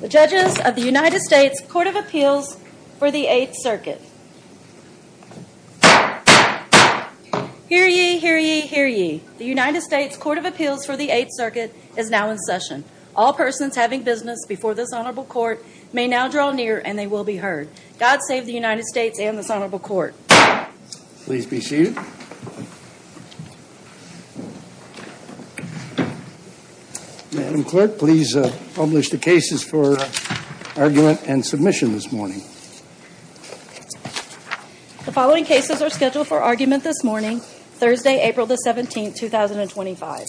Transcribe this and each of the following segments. The Judges of the United States Court of Appeals for the Eighth Circuit Hear ye, hear ye, hear ye. The United States Court of Appeals for the Eighth Circuit is now in session. All persons having business before this Honorable Court may now draw near and they will be heard. God save the United States and this Honorable Court. Please be seated. Madam Clerk, please publish the cases for argument and submission this morning. The following cases are scheduled for argument this morning, Thursday, April 17, 2025.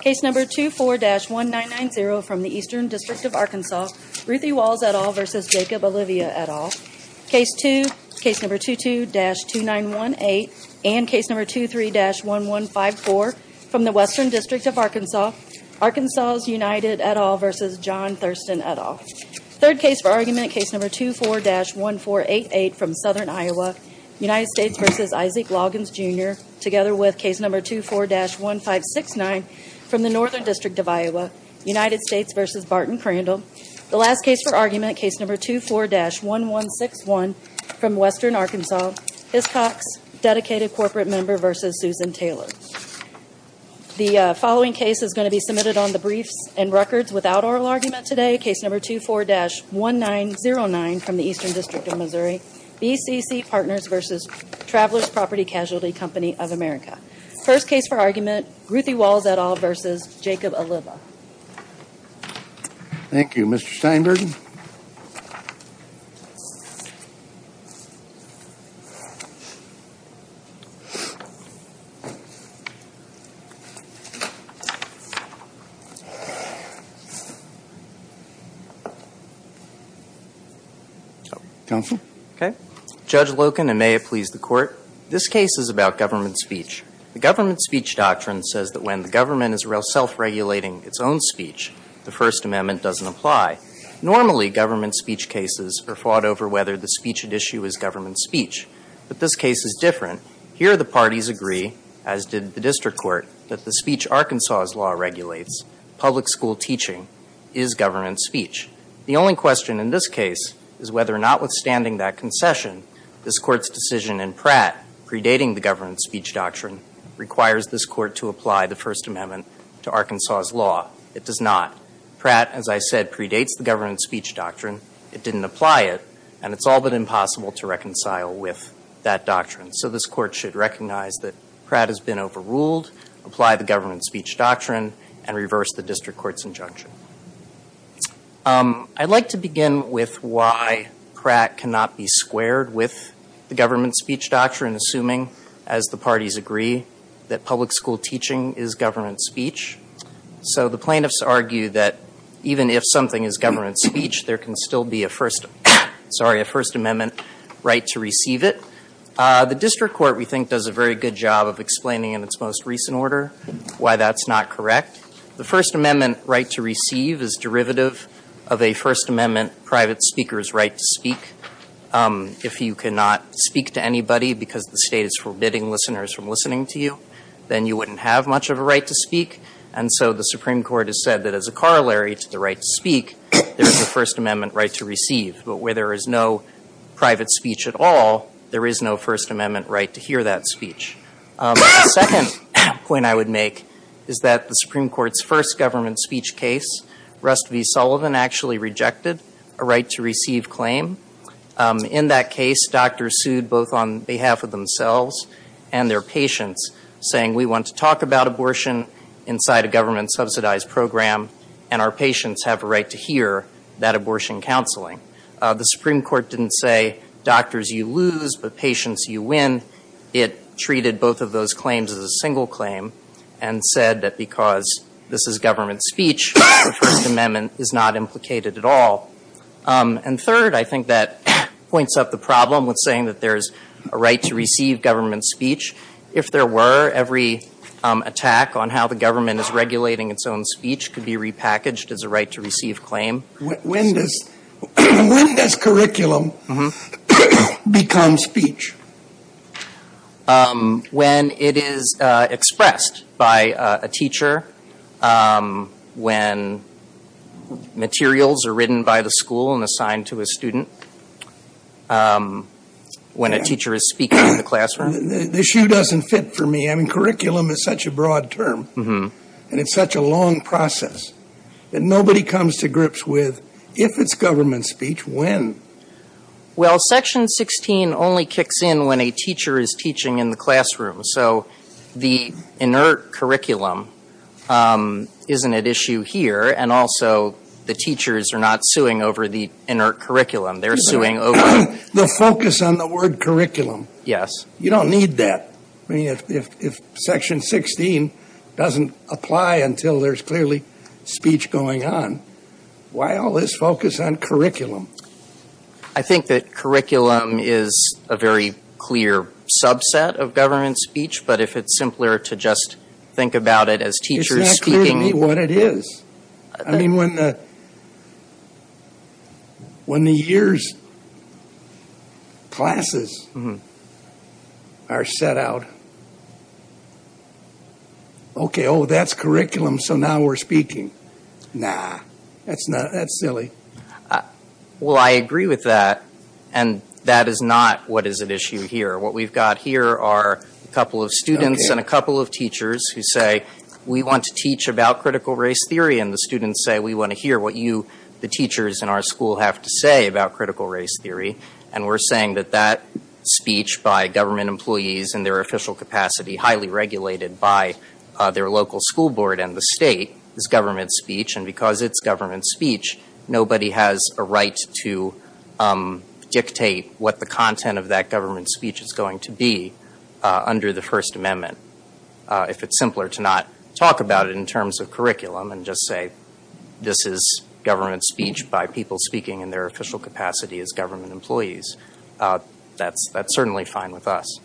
Case number 24-1990 from the Eastern District of Arkansas, Ruthie Walls et al. v. Jacob Olivia et al. Case number 22-2918 and case number 23-1154 from the Western District of Arkansas, Arkansas United et al. v. John Thurston et al. Third case for argument, case number 24-1488 from Southern Iowa, United States v. Isaac Loggins Jr. together with case number 24-1569 from the Northern District of Iowa, United States v. Barton Crandall. The last case for argument, case number 24-1161 from Western Arkansas, Hiscox, dedicated corporate member v. Susan Taylor. The following case is going to be submitted on the briefs and records without oral argument today. Case number 24-1909 from the Eastern District of Missouri, BCC Partners v. Travelers Property Casualty Company of America. First case for argument, Ruthie Walls et al. v. Jacob Olivia. Thank you. Mr. Steinberg? Counsel? Okay. Judge Loken, and may it please the Court. This case is about government speech. The government speech doctrine says that when the government is self-regulating its own speech, the First Amendment doesn't apply. Normally, government speech cases are fought over whether the speech at issue is government speech. But this case is different. Here the parties agree, as did the district court, that the speech Arkansas's law regulates, public school teaching, is government speech. The only question in this case is whether or not, withstanding that concession, this Court's decision in Pratt, predating the government speech doctrine, requires this Court to apply the First Amendment to Arkansas's law. It does not. Pratt, as I said, predates the government speech doctrine. It didn't apply it, and it's all but impossible to reconcile with that doctrine. So this Court should recognize that Pratt has been overruled, apply the government speech doctrine, and reverse the district court's injunction. I'd like to begin with why Pratt cannot be squared with the government speech doctrine, assuming, as the parties agree, that public school teaching is government speech. So the plaintiffs argue that even if something is government speech, there can still be a First Amendment right to receive it. The district court, we think, does a very good job of explaining in its most recent order why that's not correct. The First Amendment right to receive is derivative of a First Amendment private speaker's right to speak. If you cannot speak to anybody because the state is forbidding listeners from listening to you, then you wouldn't have much of a right to speak. And so the Supreme Court has said that as a corollary to the right to speak, there's a First Amendment right to receive. But where there is no private speech at all, there is no First Amendment right to hear that speech. The second point I would make is that the Supreme Court's first government speech case, Rust v. Sullivan actually rejected a right to receive claim. In that case, doctors sued both on behalf of themselves and their patients, saying we want to talk about abortion inside a government-subsidized program, and our patients have a right to hear that abortion counseling. The Supreme Court didn't say doctors, you lose, but patients, you win. It treated both of those claims as a single claim and said that because this is government speech, the First Amendment is not implicated at all. And third, I think that points up the problem with saying that there's a right to receive government speech. If there were, every attack on how the government is regulating its own speech could be repackaged as a right to receive claim. When does curriculum become speech? When it is expressed by a teacher, when materials are written by the school and assigned to a student, when a teacher is speaking in the classroom. The issue doesn't fit for me. I mean, curriculum is such a broad term, and it's such a long process, that nobody comes to grips with if it's government speech, when. Well, Section 16 only kicks in when a teacher is teaching in the classroom. So the inert curriculum isn't at issue here, and also the teachers are not suing over the inert curriculum. They're suing over the focus on the word curriculum. Yes. You don't need that. I mean, if Section 16 doesn't apply until there's clearly speech going on, why all this focus on curriculum? I think that curriculum is a very clear subset of government speech, but if it's simpler to just think about it as teachers speaking. It's not clear to me what it is. I mean, when the year's classes are set out, okay, oh, that's curriculum, so now we're speaking. Nah, that's silly. Well, I agree with that, and that is not what is at issue here. What we've got here are a couple of students and a couple of teachers who say, we want to teach about critical race theory, and the students say, we want to hear what you, the teachers in our school, have to say about critical race theory, and we're saying that that speech by government employees in their official capacity, highly regulated by their local school board and the state, is government speech, and because it's government speech, nobody has a right to dictate what the content of that government speech is going to be under the First Amendment. If it's simpler to not talk about it in terms of curriculum and just say, this is government speech by people speaking in their official capacity as government employees, that's certainly fine with us.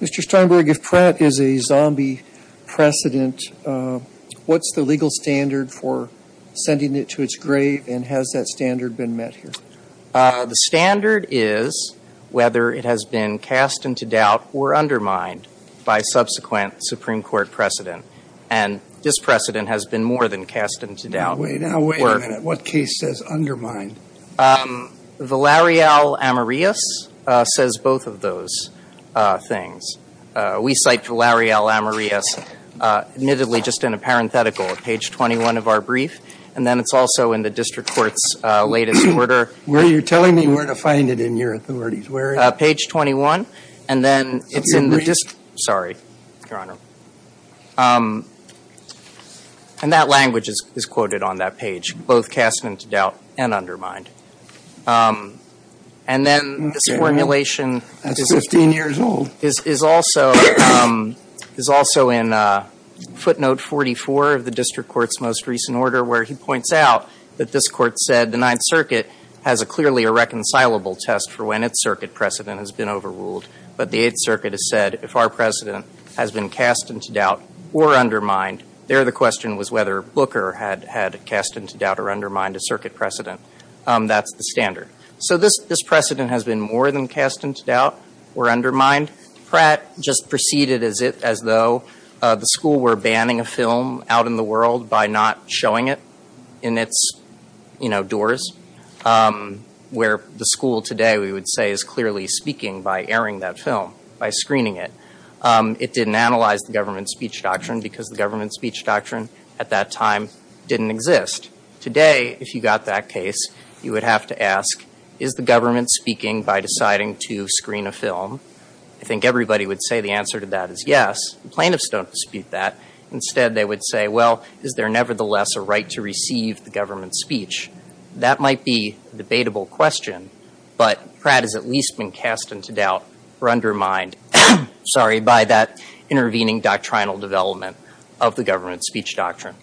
Mr. Steinberg, if Pratt is a zombie precedent, what's the legal standard for sending it to its grave, and has that standard been met here? The standard is whether it has been cast into doubt or undermined by subsequent Supreme Court precedent, and this precedent has been more than cast into doubt. Wait a minute. What case says undermined? Valerio Amorius says both of those things. We cite Valerio Amorius, admittedly, just in a parenthetical at page 21 of our brief, and then it's also in the district court's latest order. Where are you telling me where to find it in your authorities? Where is it? Page 21, and then it's in the district. Sorry, Your Honor. And that language is quoted on that page, both cast into doubt and undermined. And then this formulation is also in footnote 44 of the district court's most recent order, where he points out that this court said the Ninth Circuit has clearly a reconcilable test for when its circuit precedent has been overruled, but the Eighth Circuit has said, if our precedent has been cast into doubt or undermined, there the question was whether Booker had cast into doubt or undermined a circuit precedent. That's the standard. So this precedent has been more than cast into doubt or undermined. Pratt just preceded as though the school were banning a film out in the world by not showing it in its doors, where the school today, we would say, is clearly speaking by airing that film, by screening it. It didn't analyze the government speech doctrine because the government speech doctrine at that time didn't exist. Today, if you got that case, you would have to ask, is the government speaking by deciding to screen a film? I think everybody would say the answer to that is yes. Plaintiffs don't dispute that. Instead, they would say, well, is there nevertheless a right to receive the government's speech? That might be a debatable question, but Pratt has at least been cast into doubt or undermined, sorry, by that intervening doctrinal development of the government speech doctrine.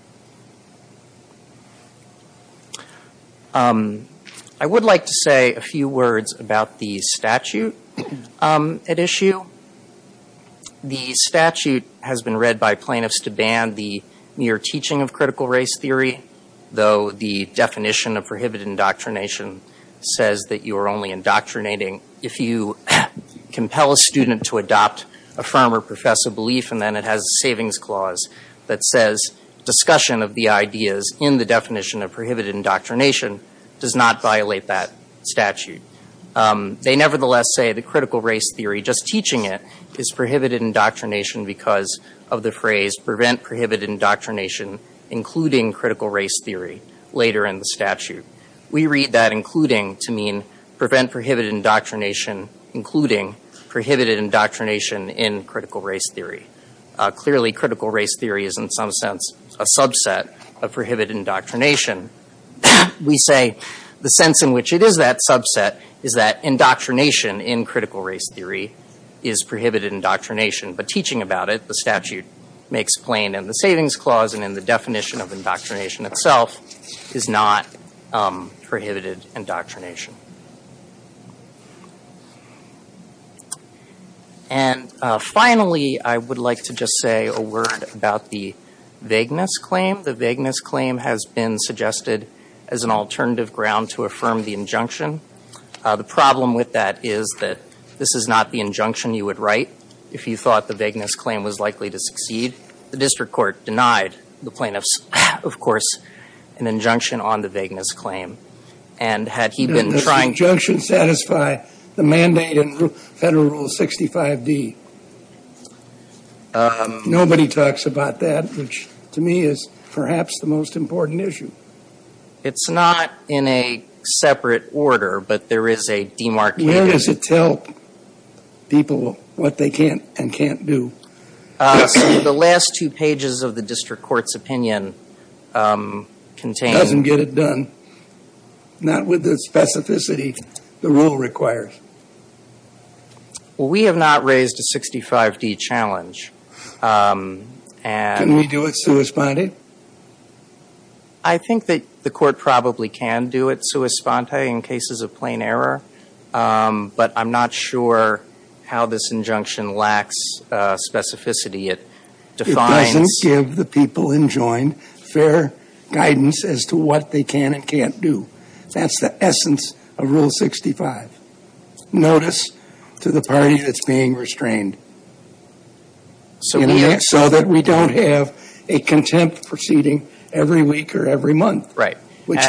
I would like to say a few words about the statute at issue. The statute has been read by plaintiffs to ban the mere teaching of critical race theory, though the definition of prohibited indoctrination says that you are only indoctrinating if you compel a student to adopt a firm or profess a belief, and then it has a savings clause that says, discussion of the ideas in the definition of prohibited indoctrination does not violate that statute. They nevertheless say the critical race theory, just teaching it, is prohibited indoctrination because of the phrase, prevent prohibited indoctrination including critical race theory, later in the statute. We read that including to mean prevent prohibited indoctrination including prohibited indoctrination in critical race theory. Clearly, critical race theory is in some sense a subset of prohibited indoctrination. We say the sense in which it is that subset is that indoctrination in critical race theory is prohibited indoctrination. But teaching about it, the statute makes plain in the savings clause and in the definition of indoctrination itself is not prohibited indoctrination. And finally, I would like to just say a word about the vagueness claim. The vagueness claim has been suggested as an alternative ground to affirm the injunction. The problem with that is that this is not the injunction you would write if you thought the vagueness claim was likely to succeed. The district court denied the plaintiffs, of course, an injunction on the vagueness claim. And had he been trying to – Does the injunction satisfy the mandate in Federal Rule 65d? Nobody talks about that, which to me is perhaps the most important issue. It's not in a separate order, but there is a demarcation. Where does it tell people what they can and can't do? The last two pages of the district court's opinion contain – It doesn't get it done. Not with the specificity the rule requires. We have not raised a 65d challenge. Can we do it suesponding? I think that the court probably can do it suesponding in cases of plain error. But I'm not sure how this injunction lacks specificity. It defines – It doesn't give the people enjoined fair guidance as to what they can and can't do. That's the essence of Rule 65. Notice to the party that's being restrained. So that we don't have a contempt proceeding every week or every month. Which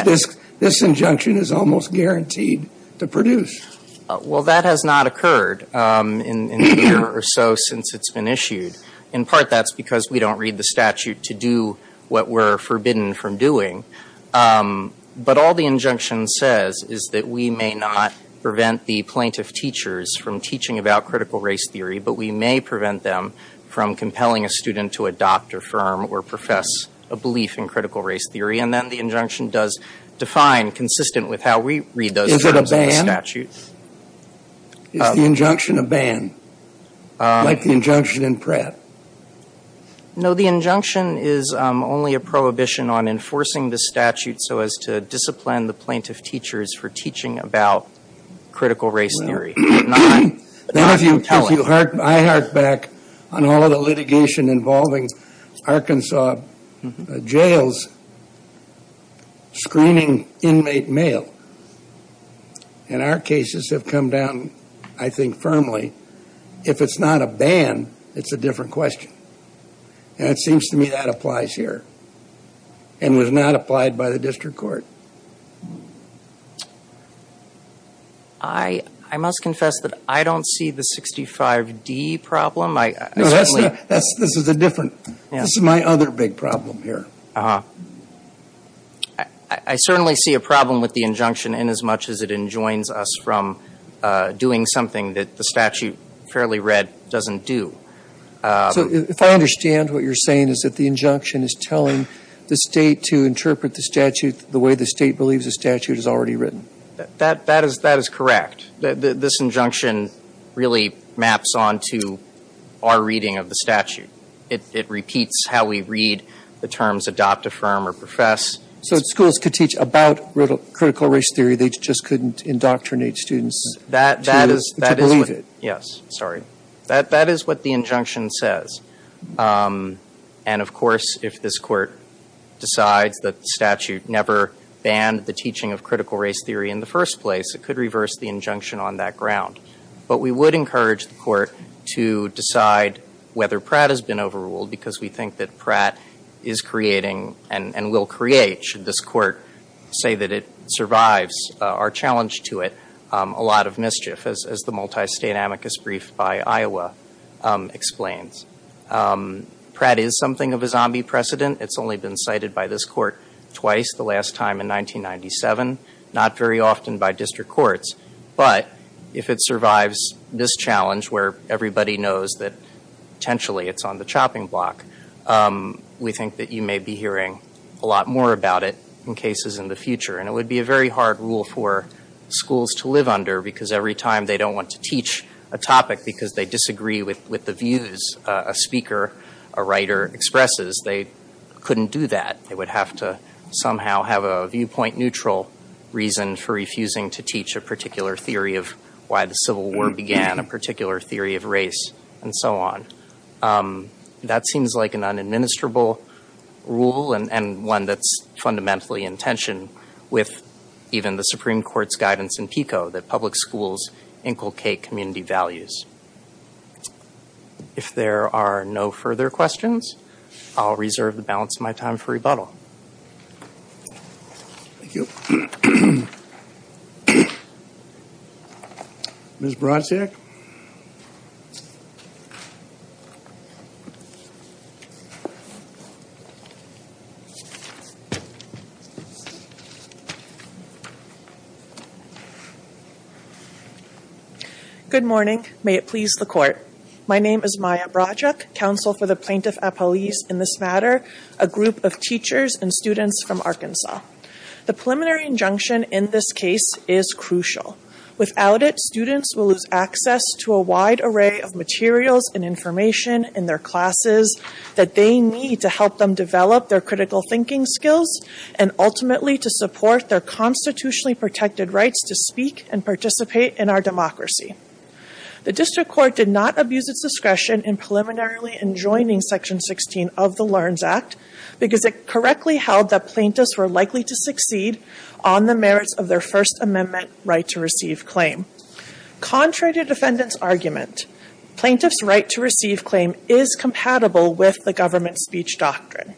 this injunction is almost guaranteed to produce. Well, that has not occurred in a year or so since it's been issued. In part, that's because we don't read the statute to do what we're forbidden from doing. But all the injunction says is that we may not prevent the plaintiff teachers from teaching about critical race theory, but we may prevent them from compelling a student to adopt, affirm, or profess a belief in critical race theory. And then the injunction does define, consistent with how we read those terms in the statute. Is the injunction a ban? Like the injunction in Pratt? No, the injunction is only a prohibition on enforcing the statute so as to discipline the plaintiff teachers for teaching about critical race theory. I hark back on all of the litigation involving Arkansas jails screening inmate mail. And our cases have come down, I think, firmly. If it's not a ban, it's a different question. And it seems to me that applies here. And was not applied by the district court. I must confess that I don't see the 65D problem. No, that's not. This is a different. This is my other big problem here. Uh-huh. I certainly see a problem with the injunction inasmuch as it enjoins us from doing something that the statute, fairly read, doesn't do. So if I understand what you're saying is that the injunction is telling the State to interpret the statute the way the State believes the statute is already written? That is correct. This injunction really maps on to our reading of the statute. It repeats how we read the terms adopt, affirm, or profess. So schools could teach about critical race theory. They just couldn't indoctrinate students to believe it. Yes. Sorry. That is what the injunction says. And, of course, if this court decides that the statute never banned the teaching of critical race theory in the first place, it could reverse the injunction on that ground. But we would encourage the court to decide whether Pratt has been overruled because we think that Pratt is creating and will create, should this court say that it survives our challenge to it, a lot of mischief, as the multi-state amicus brief by Iowa explains. Pratt is something of a zombie precedent. It's only been cited by this court twice, the last time in 1997, not very often by district courts. But if it survives this challenge where everybody knows that potentially it's on the chopping block, we think that you may be hearing a lot more about it in cases in the future. And it would be a very hard rule for schools to live under because every time they don't want to teach a topic because they disagree with the views a speaker, a writer expresses, they couldn't do that. They would have to somehow have a viewpoint neutral reason for refusing to teach a particular theory of why the Civil War began, a particular theory of race, and so on. That seems like an unadministrable rule and one that's fundamentally in tension with even the Supreme Court's guidance in PICO that public schools inculcate community values. If there are no further questions, I'll reserve the balance of my time for rebuttal. Thank you. Ms. Brodczyk. Good morning. May it please the court. My name is Maya Brodczyk, Counsel for the Plaintiff at Police in this matter, a group of teachers and students from Arkansas. The preliminary injunction in this case is crucial. Without it, students will lose access to a wide array of materials and information in their classes that they need to help them develop their critical thinking skills and ultimately to support their constitutionally protected rights to speak and participate in our democracy. The district court did not abuse its discretion in preliminarily enjoining Section 16 of the Learns Act because it correctly held that plaintiffs were likely to succeed on the merits of their First Amendment right to receive claim. Contrary to defendants' argument, plaintiffs' right to receive claim is compatible with the government speech doctrine.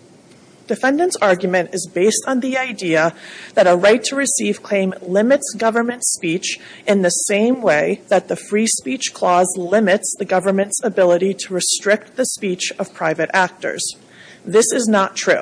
Defendants' argument is based on the idea that a right to receive claim limits government speech in the same way that the free speech clause limits the government's ability to restrict the speech of private actors. This is not true.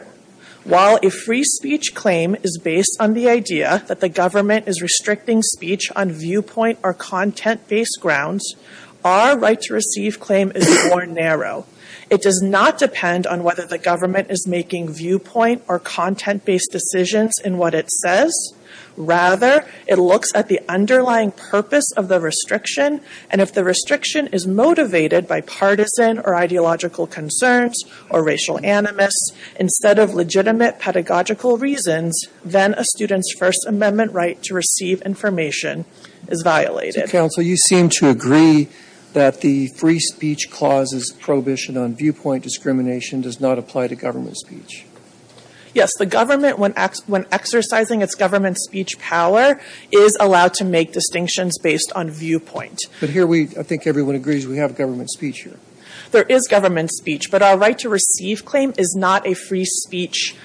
While a free speech claim is based on the idea that the government is restricting speech on viewpoint or content-based grounds, our right to receive claim is more narrow. It does not depend on whether the government is making viewpoint or content-based decisions in what it says. Rather, it looks at the underlying purpose of the restriction, and if the restriction is motivated by partisan or ideological concerns or racial animus instead of legitimate pedagogical reasons, then a student's First Amendment right to receive information is violated. Counsel, you seem to agree that the free speech clause's prohibition on viewpoint discrimination does not apply to government speech. Yes. The government, when exercising its government speech power, is allowed to make distinctions based on viewpoint. But here we, I think everyone agrees we have government speech here. There is government speech. But our right to receive claim is not a free speech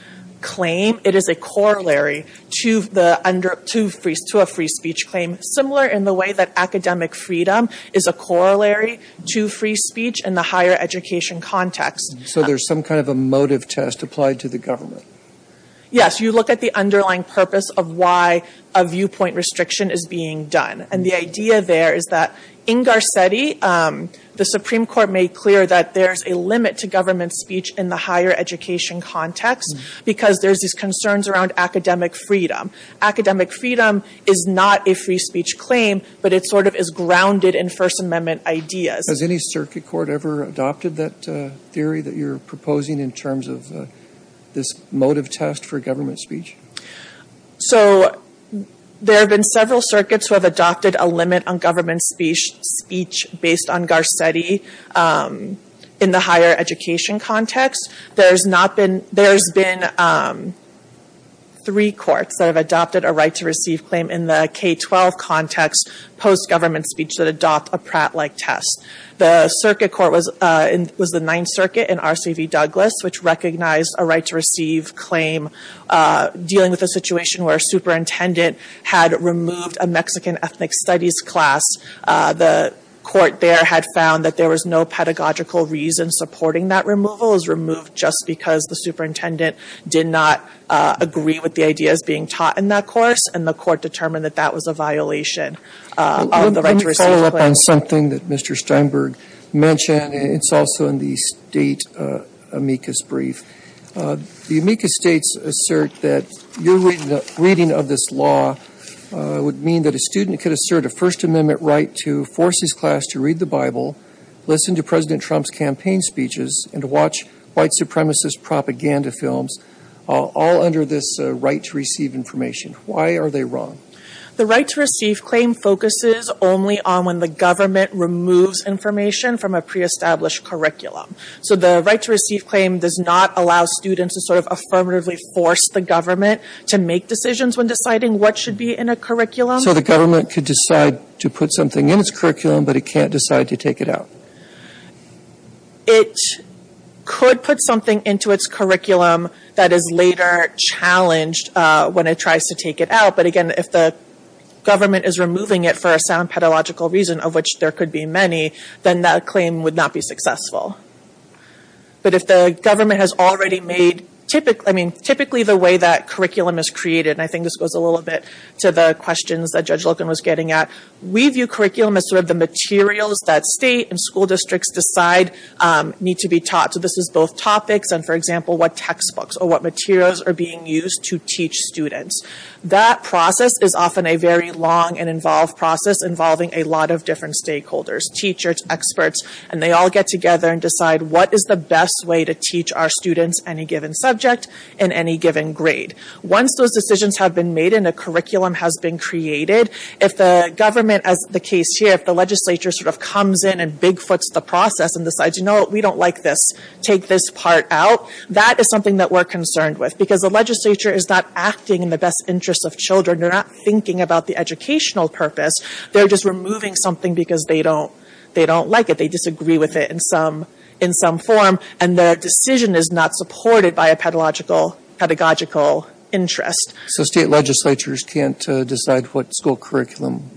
claim. It is a corollary to a free speech claim, similar in the way that academic freedom is a corollary to free speech in the higher education context. So there's some kind of a motive test applied to the government. Yes. You look at the underlying purpose of why a viewpoint restriction is being done. And the idea there is that in Garcetti, the Supreme Court made clear that there's a limit to government speech in the higher education context because there's these concerns around academic freedom. Academic freedom is not a free speech claim, but it sort of is grounded in First Amendment ideas. Has any circuit court ever adopted that theory that you're proposing in terms of this motive test for government speech? So there have been several circuits who have adopted a limit on government speech based on Garcetti in the higher education context. There's been three courts that have adopted a right to receive claim in the K-12 context post-government speech that adopt a Pratt-like test. The circuit court was the Ninth Circuit in R.C.V. Douglas, which recognized a right to receive claim dealing with a situation where a superintendent had removed a Mexican ethnic studies class. The court there had found that there was no pedagogical reason supporting that removal. It was removed just because the superintendent did not agree with the ideas being taught in that course, and the court determined that that was a violation of the right to receive claim. Let me follow up on something that Mr. Steinberg mentioned. It's also in the state amicus brief. The amicus states assert that your reading of this law would mean that a student could assert a First Amendment right to force his class to read the Bible, listen to President Trump's campaign speeches, and to watch white supremacist propaganda films all under this right to receive information. Why are they wrong? The right to receive claim focuses only on when the government removes information from a pre-established curriculum. So the right to receive claim does not allow students to sort of affirmatively force the government to make decisions when deciding what should be in a curriculum. So the government could decide to put something in its curriculum, but it can't decide to take it out? It could put something into its curriculum that is later challenged when it tries to take it out, but again, if the government is removing it for a sound pedagogical reason, of which there could be many, then that claim would not be successful. But if the government has already made, I mean, typically the way that curriculum is created, and I think this goes a little bit to the questions that Judge Loken was getting at, we view curriculum as sort of the materials that state and school districts decide need to be taught. So this is both topics and, for example, what textbooks or what materials are being used to teach students. That process is often a very long and involved process involving a lot of different stakeholders, teachers, experts, and they all get together and decide what is the best way to teach our students any given subject and any given grade. Once those decisions have been made and a curriculum has been created, if the government, as the case here, if the legislature sort of comes in and big-foots the process and decides, you know what, we don't like this, take this part out, that is something that we're concerned with because the legislature is not acting in the best interest of children. They're not thinking about the educational purpose. They're just removing something because they don't like it. They disagree with it in some form, and their decision is not supported by a pedagogical interest. So state legislatures can't decide what school curriculum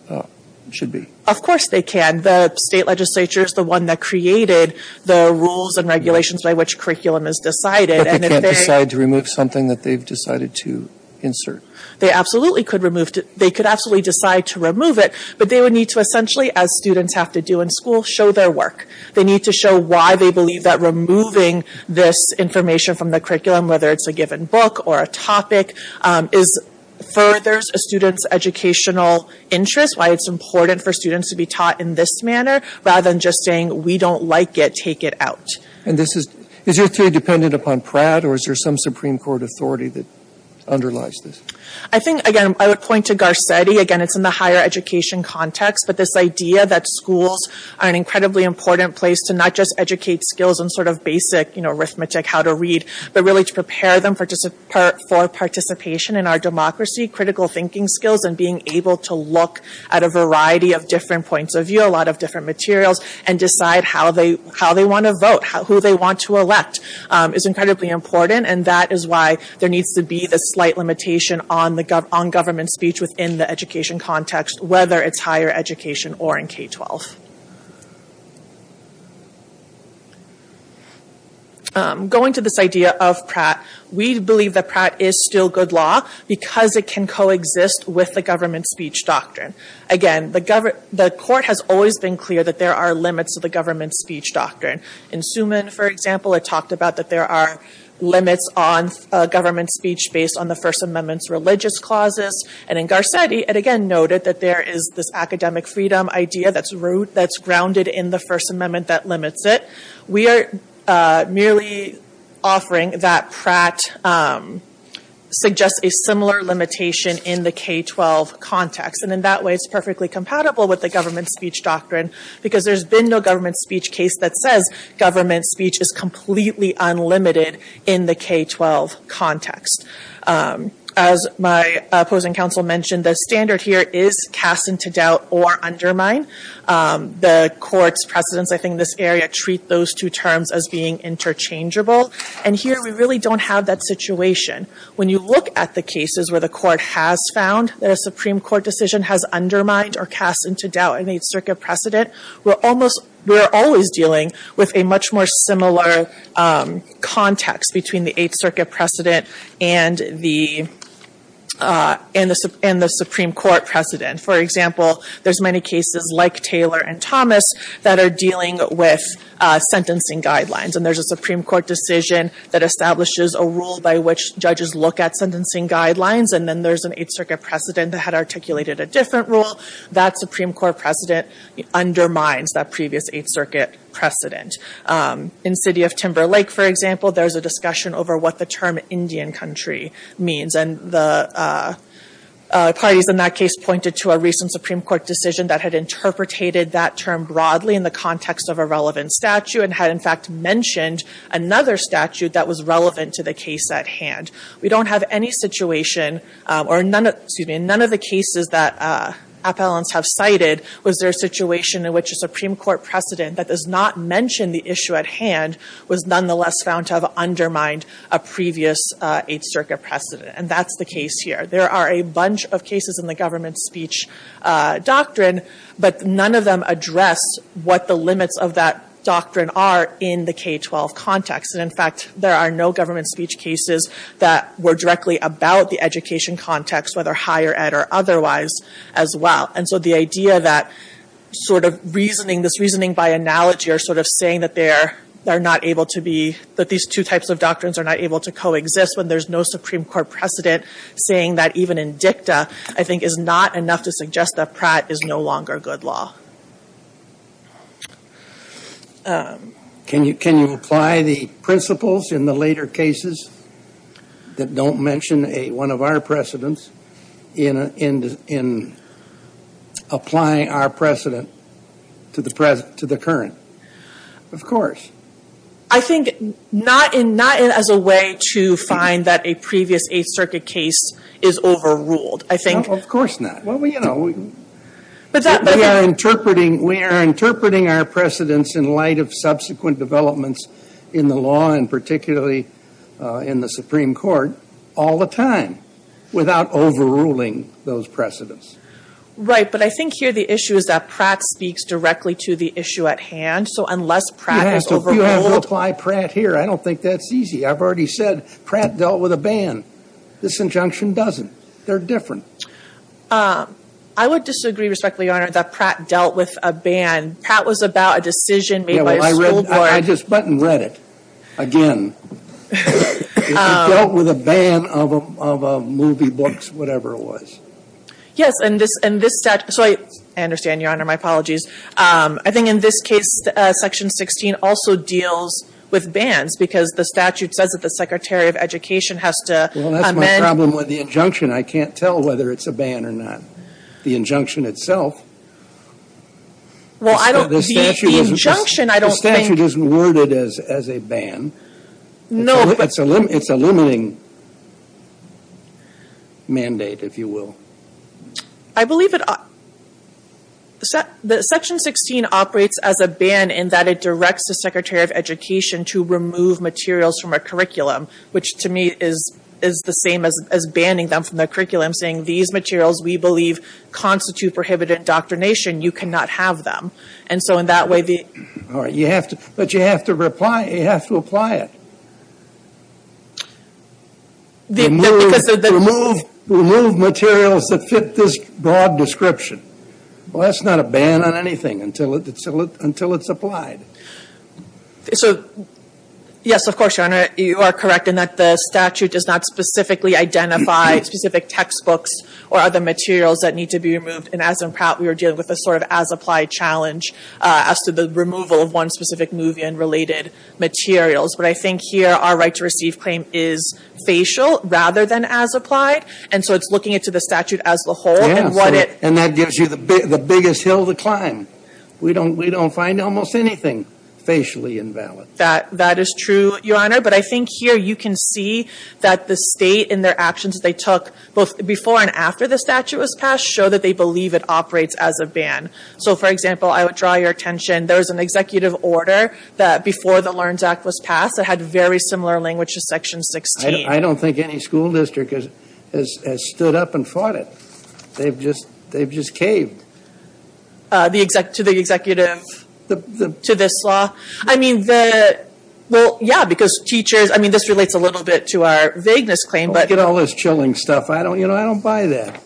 should be? Of course they can. The state legislature is the one that created the rules and regulations by which curriculum is decided. But they can't decide to remove something that they've decided to insert? They absolutely could remove it. They could absolutely decide to remove it, but they would need to essentially, as students have to do in school, show their work. They need to show why they believe that removing this information from the curriculum, whether it's a given book or a topic, furthers a student's educational interest, why it's important for students to be taught in this manner, rather than just saying, we don't like it, take it out. Is your theory dependent upon Pratt, or is there some Supreme Court authority that underlies this? I think, again, I would point to Garcetti. Again, it's in the higher education context, but this idea that schools are an incredibly important place to not just educate skills in sort of basic arithmetic, how to read, but really to prepare them for participation in our democracy, critical thinking skills, and being able to look at a variety of different points of view, a lot of different materials, and decide how they want to vote, who they want to elect is incredibly important, and that is why there needs to be this slight limitation on government speech within the education context, whether it's higher education or in K-12. Going to this idea of Pratt, we believe that Pratt is still good law because it can coexist with the government speech doctrine. Again, the court has always been clear that there are limits to the government speech doctrine. In Suman, for example, it talked about that there are limits on government speech based on the First Amendment's religious clauses, and in Garcetti, it again noted that there is this academic freedom idea that's rooted, that's grounded in the First Amendment that limits it. We are merely offering that Pratt suggests a similar limitation in the K-12 context, and in that way, it's perfectly compatible with the government speech doctrine because there's been no government speech case that says government speech is completely unlimited in the K-12 context. As my opposing counsel mentioned, the standard here is cast into doubt or undermine. The court's precedents, I think, in this area treat those two terms as being interchangeable, and here, we really don't have that situation. When you look at the cases where the court has found that a Supreme Court decision has undermined or cast into doubt an Eighth Circuit precedent, we're always dealing with a much more similar context between the Eighth Circuit precedent and the Supreme Court precedent. For example, there's many cases like Taylor and Thomas that are dealing with sentencing guidelines, and there's a Supreme Court decision that establishes a rule by which judges look at sentencing guidelines, and then there's an Eighth Circuit precedent that had articulated a different rule. That Supreme Court precedent undermines that previous Eighth Circuit precedent. In City of Timber Lake, for example, there's a discussion over what the term Indian country means, and the parties in that case pointed to a recent Supreme Court decision that had interpreted that term broadly in the context of a relevant statute and had, in fact, mentioned another statute that was relevant to the case at hand. We don't have any situation, or none of the cases that appellants have cited, was there a situation in which a Supreme Court precedent that does not mention the issue at hand was nonetheless found to have undermined a previous Eighth Circuit precedent? That's the case here. There are a bunch of cases in the government speech doctrine, but none of them address what the limits of that doctrine are in the K-12 context. In fact, there are no government speech cases that were directly about the education context, whether higher ed or otherwise, as well. And so the idea that sort of reasoning, this reasoning by analogy, or sort of saying that these two types of doctrines are not able to coexist when there's no Supreme Court precedent, saying that even in dicta, I think is not enough to suggest that Pratt is no longer good law. Can you apply the principles in the later cases that don't mention one of our precedents in applying our precedent to the current? Of course. I think not as a way to find that a previous Eighth Circuit case is overruled. Of course not. Well, you know, we are interpreting our precedents in light of subsequent developments in the law and particularly in the Supreme Court all the time without overruling those precedents. Right, but I think here the issue is that Pratt speaks directly to the issue at hand, so unless Pratt is overruled. You have to apply Pratt here. I don't think that's easy. I've already said Pratt dealt with a ban. This injunction doesn't. They're different. I would disagree, respectfully, Your Honor, that Pratt dealt with a ban. Pratt was about a decision made by a school board. Yeah, well, I just went and read it again. It dealt with a ban of movie books, whatever it was. Yes, and this statute. So I understand, Your Honor. My apologies. I think in this case, Section 16 also deals with bans because the statute says that the Secretary of Education has to amend. Well, that's my problem with the injunction. I can't tell whether it's a ban or not, the injunction itself. Well, I don't. The statute isn't. The injunction, I don't think. The statute isn't worded as a ban. No. It's a limiting mandate, if you will. I believe it. Section 16 operates as a ban in that it directs the Secretary of Education to remove materials from a curriculum, which to me is the same as banning them from their curriculum, saying these materials, we believe, constitute prohibited indoctrination. You cannot have them. And so in that way, the — All right. But you have to apply it. Remove materials that fit this broad description. Well, that's not a ban on anything until it's applied. So, yes, of course, Your Honor. You are correct in that the statute does not specifically identify specific textbooks or other materials that need to be removed. And as in Pratt, we were dealing with a sort of as-applied challenge as to the removal of one specific movie and related materials. But I think here our right to receive claim is facial rather than as-applied. And so it's looking into the statute as a whole. Yes. And that gives you the biggest hill to climb. We don't find almost anything facially invalid. That is true, Your Honor. But I think here you can see that the state in their actions they took both before and after the statute was passed show that they believe it operates as a ban. So, for example, I would draw your attention. There was an executive order that before the Learns Act was passed that had very similar language to Section 16. I don't think any school district has stood up and fought it. They've just caved. To the executive, to this law. I mean, well, yeah, because teachers, I mean, this relates a little bit to our vagueness claim. Don't get all this chilling stuff. You know, I don't buy that.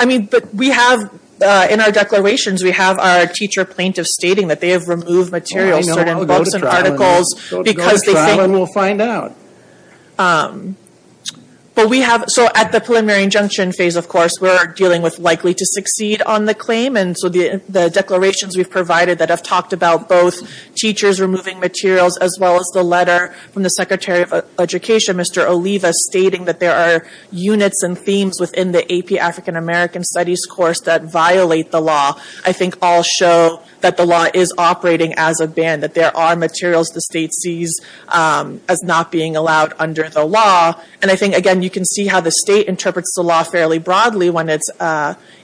I mean, but we have in our declarations, we have our teacher plaintiff stating that they have removed materials, certain books and articles because they think. Go to trial and we'll find out. But we have, so at the preliminary injunction phase, of course, we're dealing with likely to succeed on the claim. And so the declarations we've provided that have talked about both teachers removing materials as well as the letter from the Secretary of Education, Mr. Oliva, stating that there are units and themes within the AP African American Studies course that violate the law, I think all show that the law is operating as a ban. That there are materials the state sees as not being allowed under the law. And I think, again, you can see how the state interprets the law fairly broadly when it's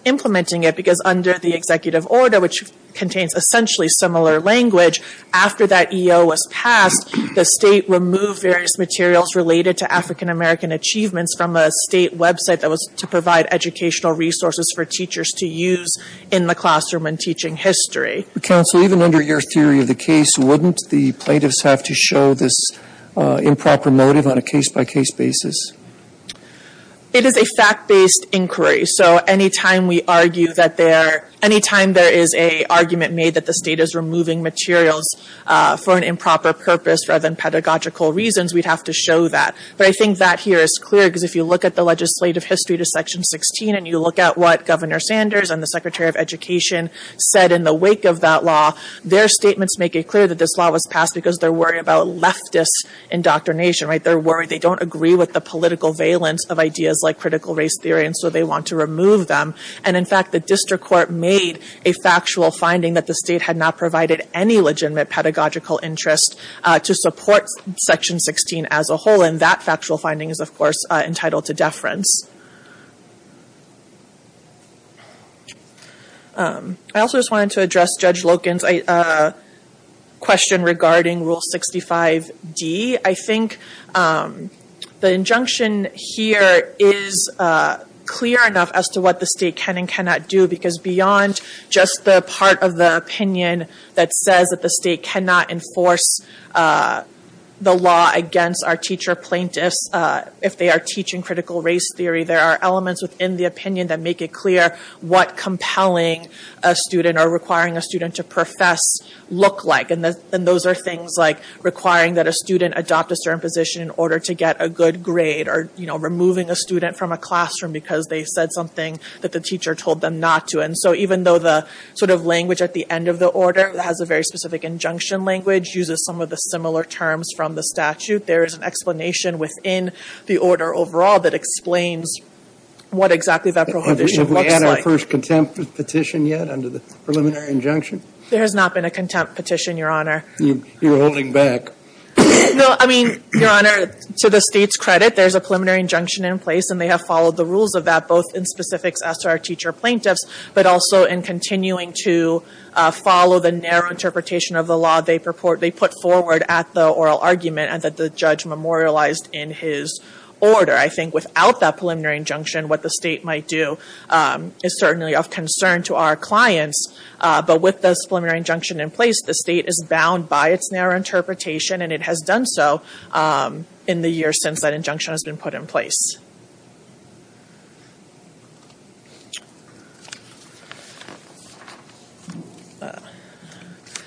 implementing it. Because under the executive order, which contains essentially similar language, after that EO was passed, the state removed various materials related to African American achievements from a state website that was to provide educational resources for teachers to use in the classroom and teaching history. Counsel, even under your theory of the case, wouldn't the plaintiffs have to show this improper motive on a case-by-case basis? It is a fact-based inquiry. So anytime there is an argument made that the state is removing materials for an improper purpose rather than pedagogical reasons, we'd have to show that. But I think that here is clear because if you look at the legislative history to Section 16 and you look at what Governor Sanders and the Secretary of Education said in the wake of that law, their statements make it clear that this law was passed because they're worried about leftist indoctrination. They're worried. They don't agree with the political valence of ideas like critical race theory, and so they want to remove them. And in fact, the district court made a factual finding that the state had not provided any legitimate pedagogical interest to support Section 16 as a whole. And that factual finding is, of course, entitled to deference. I also just wanted to address Judge Loken's question regarding Rule 65D. I think the injunction here is clear enough as to what the state can and cannot do because beyond just the part of the opinion that says that the state cannot enforce the law against our teacher plaintiffs if they are teaching critical race theory, there are elements within the opinion that make it clear what compelling a student or requiring a student to profess look like. And those are things like requiring that a student adopt a certain position in order to get a good grade or, you know, removing a student from a classroom because they said something that the teacher told them not to. And so even though the sort of language at the end of the order has a very specific injunction language, uses some of the similar terms from the statute, there is an explanation within the order overall that explains what exactly that prohibition looks like. If we add our first contempt petition yet under the preliminary injunction? There has not been a contempt petition, Your Honor. You're holding back. No, I mean, Your Honor, to the state's credit, there's a preliminary injunction in place and they have followed the rules of that both in specifics as to our teacher plaintiffs but also in continuing to follow the narrow interpretation of the law they put forward at the oral argument and that the judge memorialized in his order. I think without that preliminary injunction, what the state might do is certainly of concern to our clients, but with this preliminary injunction in place, the state is bound by its narrow interpretation and it has done so in the years since that injunction has been put in place.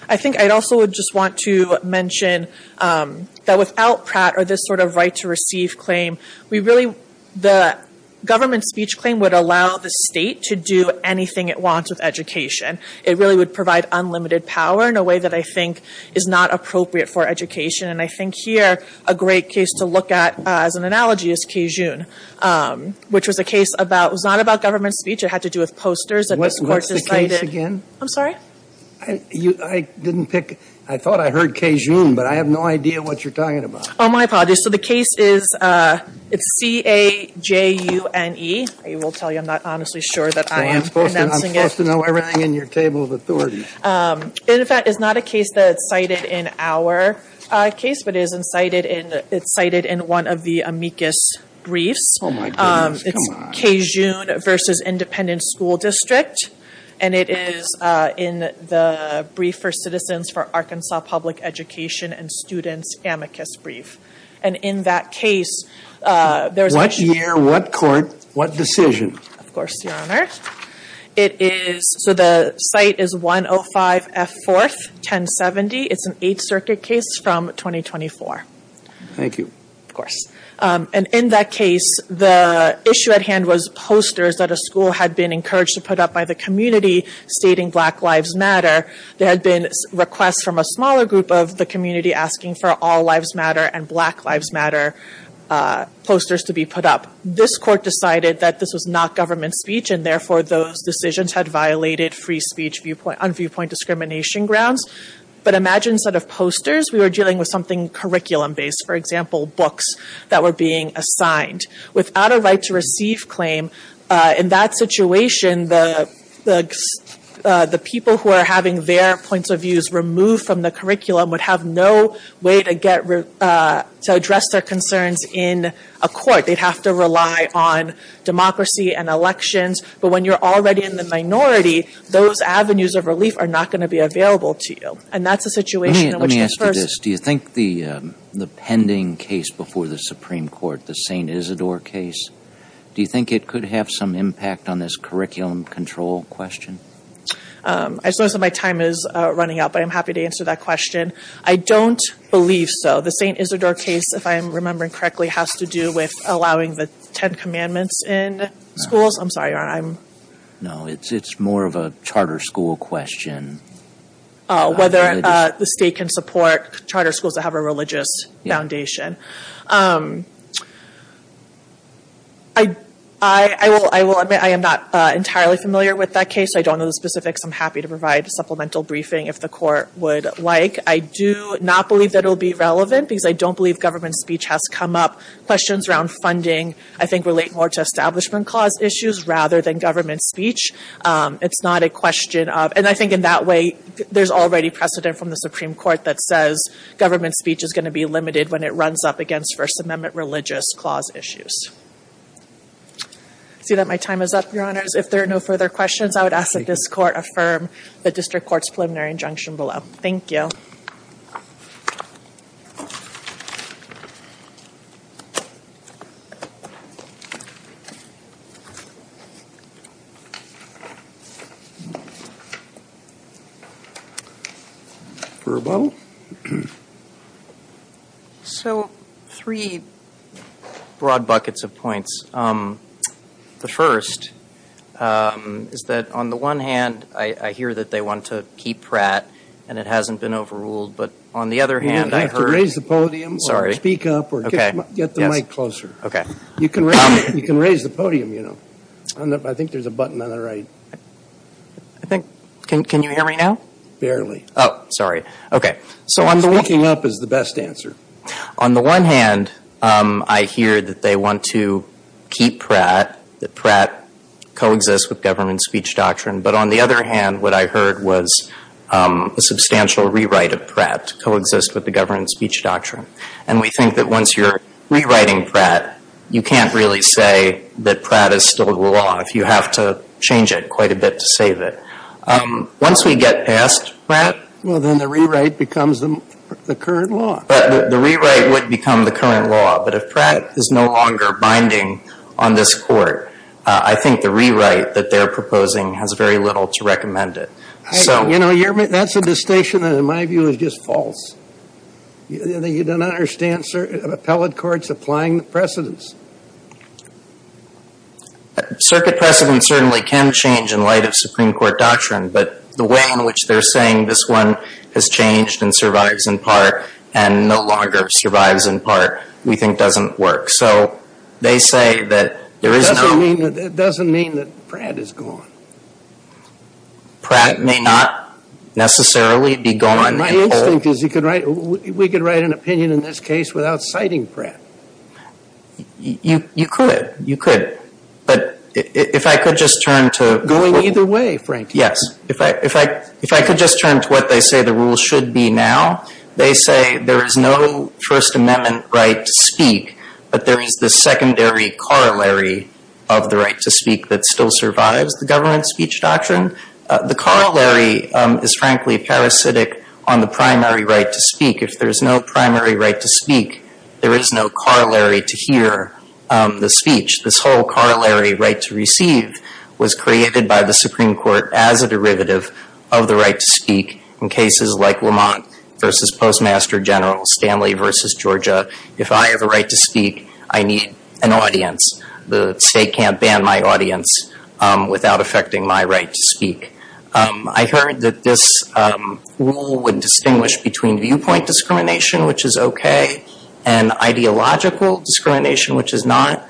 I think I'd also just want to mention that without Pratt or this sort of right to receive claim, we really, the government speech claim would allow the state to do anything it wants with education. It really would provide unlimited power in a way that I think is not appropriate for education, and I think here a great case to look at as an analogy is Cajun, which was a case about, it was not about government speech. It had to do with posters that this Court decided. What's the case again? I'm sorry? I didn't pick. I thought I heard Cajun, but I have no idea what you're talking about. Oh, my apologies. So the case is C-A-J-U-N-E. I will tell you I'm not honestly sure that I am pronouncing it. I'm supposed to know everything in your table of authorities. In fact, it's not a case that's cited in our case, but it's cited in one of the amicus briefs. Oh, my goodness. Come on. It's Cajun v. Independent School District, and it is in the Brief for Citizens for Arkansas Public Education and Students amicus brief, and in that case, What year? What court? What decision? Of course, Your Honor. So the site is 105 F. 4th, 1070. It's an Eighth Circuit case from 2024. Thank you. Of course. And in that case, the issue at hand was posters that a school had been encouraged to put up by the community stating Black Lives Matter. There had been requests from a smaller group of the community asking for All posters to be put up. This court decided that this was not government speech, and therefore, those decisions had violated free speech on viewpoint discrimination grounds. But imagine instead of posters, we were dealing with something curriculum based, for example, books that were being assigned. Without a right to receive claim, in that situation, the people who are having their points of views removed from the curriculum would have no way to address their concerns in a court. They'd have to rely on democracy and elections. But when you're already in the minority, those avenues of relief are not going to be available to you. And that's a situation in which the first Let me ask you this. Do you think the pending case before the Supreme Court, the St. Isidore case, do you think it could have some impact on this curriculum control question? I suppose that my time is running out, but I'm happy to answer that question. I don't believe so. The St. Isidore case, if I'm remembering correctly, has to do with allowing the Ten Commandments in schools. I'm sorry. No, it's more of a charter school question. Whether the state can support charter schools that have a religious foundation. I will admit I am not entirely familiar with that case. I don't know the specifics. I'm happy to provide a supplemental briefing if the court would like. I do not believe that it will be relevant, because I don't believe government speech has come up. Questions around funding, I think, relate more to establishment clause issues rather than government speech. It's not a question of, and I think in that way, there's already precedent from the Supreme Court that says government speech is going to be limited when it runs up against First Amendment religious clause issues. I see that my time is up, Your Honors. If there are no further questions, I would ask that this Court affirm the District Court's preliminary injunction below. Thank you. So three broad buckets of points. The first is that on the one hand, I hear that they want to keep Pratt and it hasn't been overruled, but on the other hand, I heard. You don't have to raise the podium or speak up or get the mic closer. You can raise the podium, you know. I think there's a button on the right. Can you hear me now? Barely. Oh, sorry. Speaking up is the best answer. On the one hand, I hear that they want to keep Pratt, that Pratt coexists with government speech doctrine. But on the other hand, what I heard was a substantial rewrite of Pratt to coexist with the government speech doctrine. And we think that once you're rewriting Pratt, you can't really say that Pratt is still the law if you have to change it quite a bit to save it. Once we get past Pratt. Well, then the rewrite becomes the current law. But the rewrite would become the current law. But if Pratt is no longer binding on this court, I think the rewrite that they're proposing has very little to recommend it. You know, that's a distinction that in my view is just false. You don't understand appellate courts applying the precedents. Circuit precedents certainly can change in light of Supreme Court doctrine, but the way in which they're saying this one has changed and survives in part and no longer survives in part we think doesn't work. So they say that there is no. It doesn't mean that Pratt is gone. Pratt may not necessarily be gone. My instinct is we could write an opinion in this case without citing Pratt. You could. You could. But if I could just turn to. Going either way, frankly. Yes. If I could just turn to what they say the rules should be now, they say there is no First Amendment right to speak, but there is the secondary corollary of the right to speak that still survives the government speech doctrine. The corollary is frankly parasitic on the primary right to speak. If there's no primary right to speak, there is no corollary to hear the speech. This whole corollary right to receive was created by the Supreme Court as a derivative of the right to speak in cases like Lamont v. Postmaster General, Stanley v. Georgia. If I have a right to speak, I need an audience. The state can't ban my audience without affecting my right to speak. I heard that this rule would distinguish between viewpoint discrimination, which is okay, and ideological discrimination, which is not.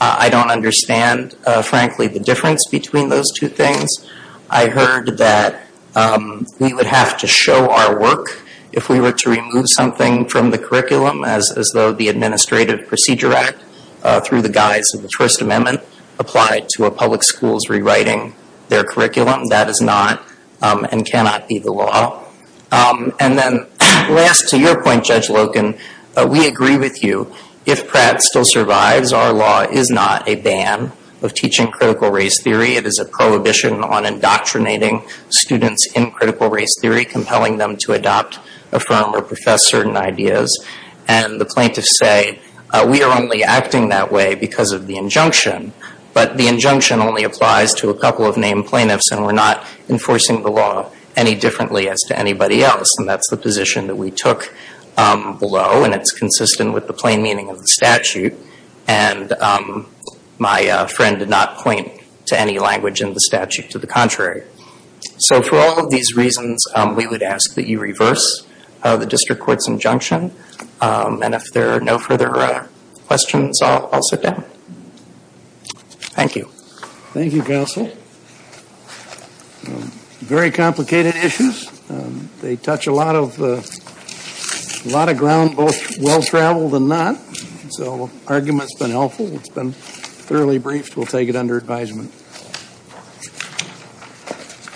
I don't understand, frankly, the difference between those two things. I heard that we would have to show our work if we were to remove something from the curriculum as though the Administrative Procedure Act, through the guise of the First Amendment, applied to a public school's rewriting their curriculum. That is not and cannot be the law. And then last, to your point, Judge Loken, we agree with you. If Pratt still survives, our law is not a ban of teaching critical race theory. It is a prohibition on indoctrinating students in critical race theory, compelling them to adopt, affirm, or profess certain ideas. And the plaintiffs say, we are only acting that way because of the injunction, but the injunction only applies to a couple of named plaintiffs, and we're not enforcing the law any differently as to anybody else. And that's the position that we took below, and it's consistent with the plain meaning of the statute. And my friend did not point to any language in the statute to the contrary. So for all of these reasons, we would ask that you reverse the district court's injunction. And if there are no further questions, I'll sit down. Thank you. Thank you, Counsel. Very complicated issues. They touch a lot of ground, both well-traveled and not. So the argument's been helpful. It's been thoroughly briefed. We'll take it under advisement.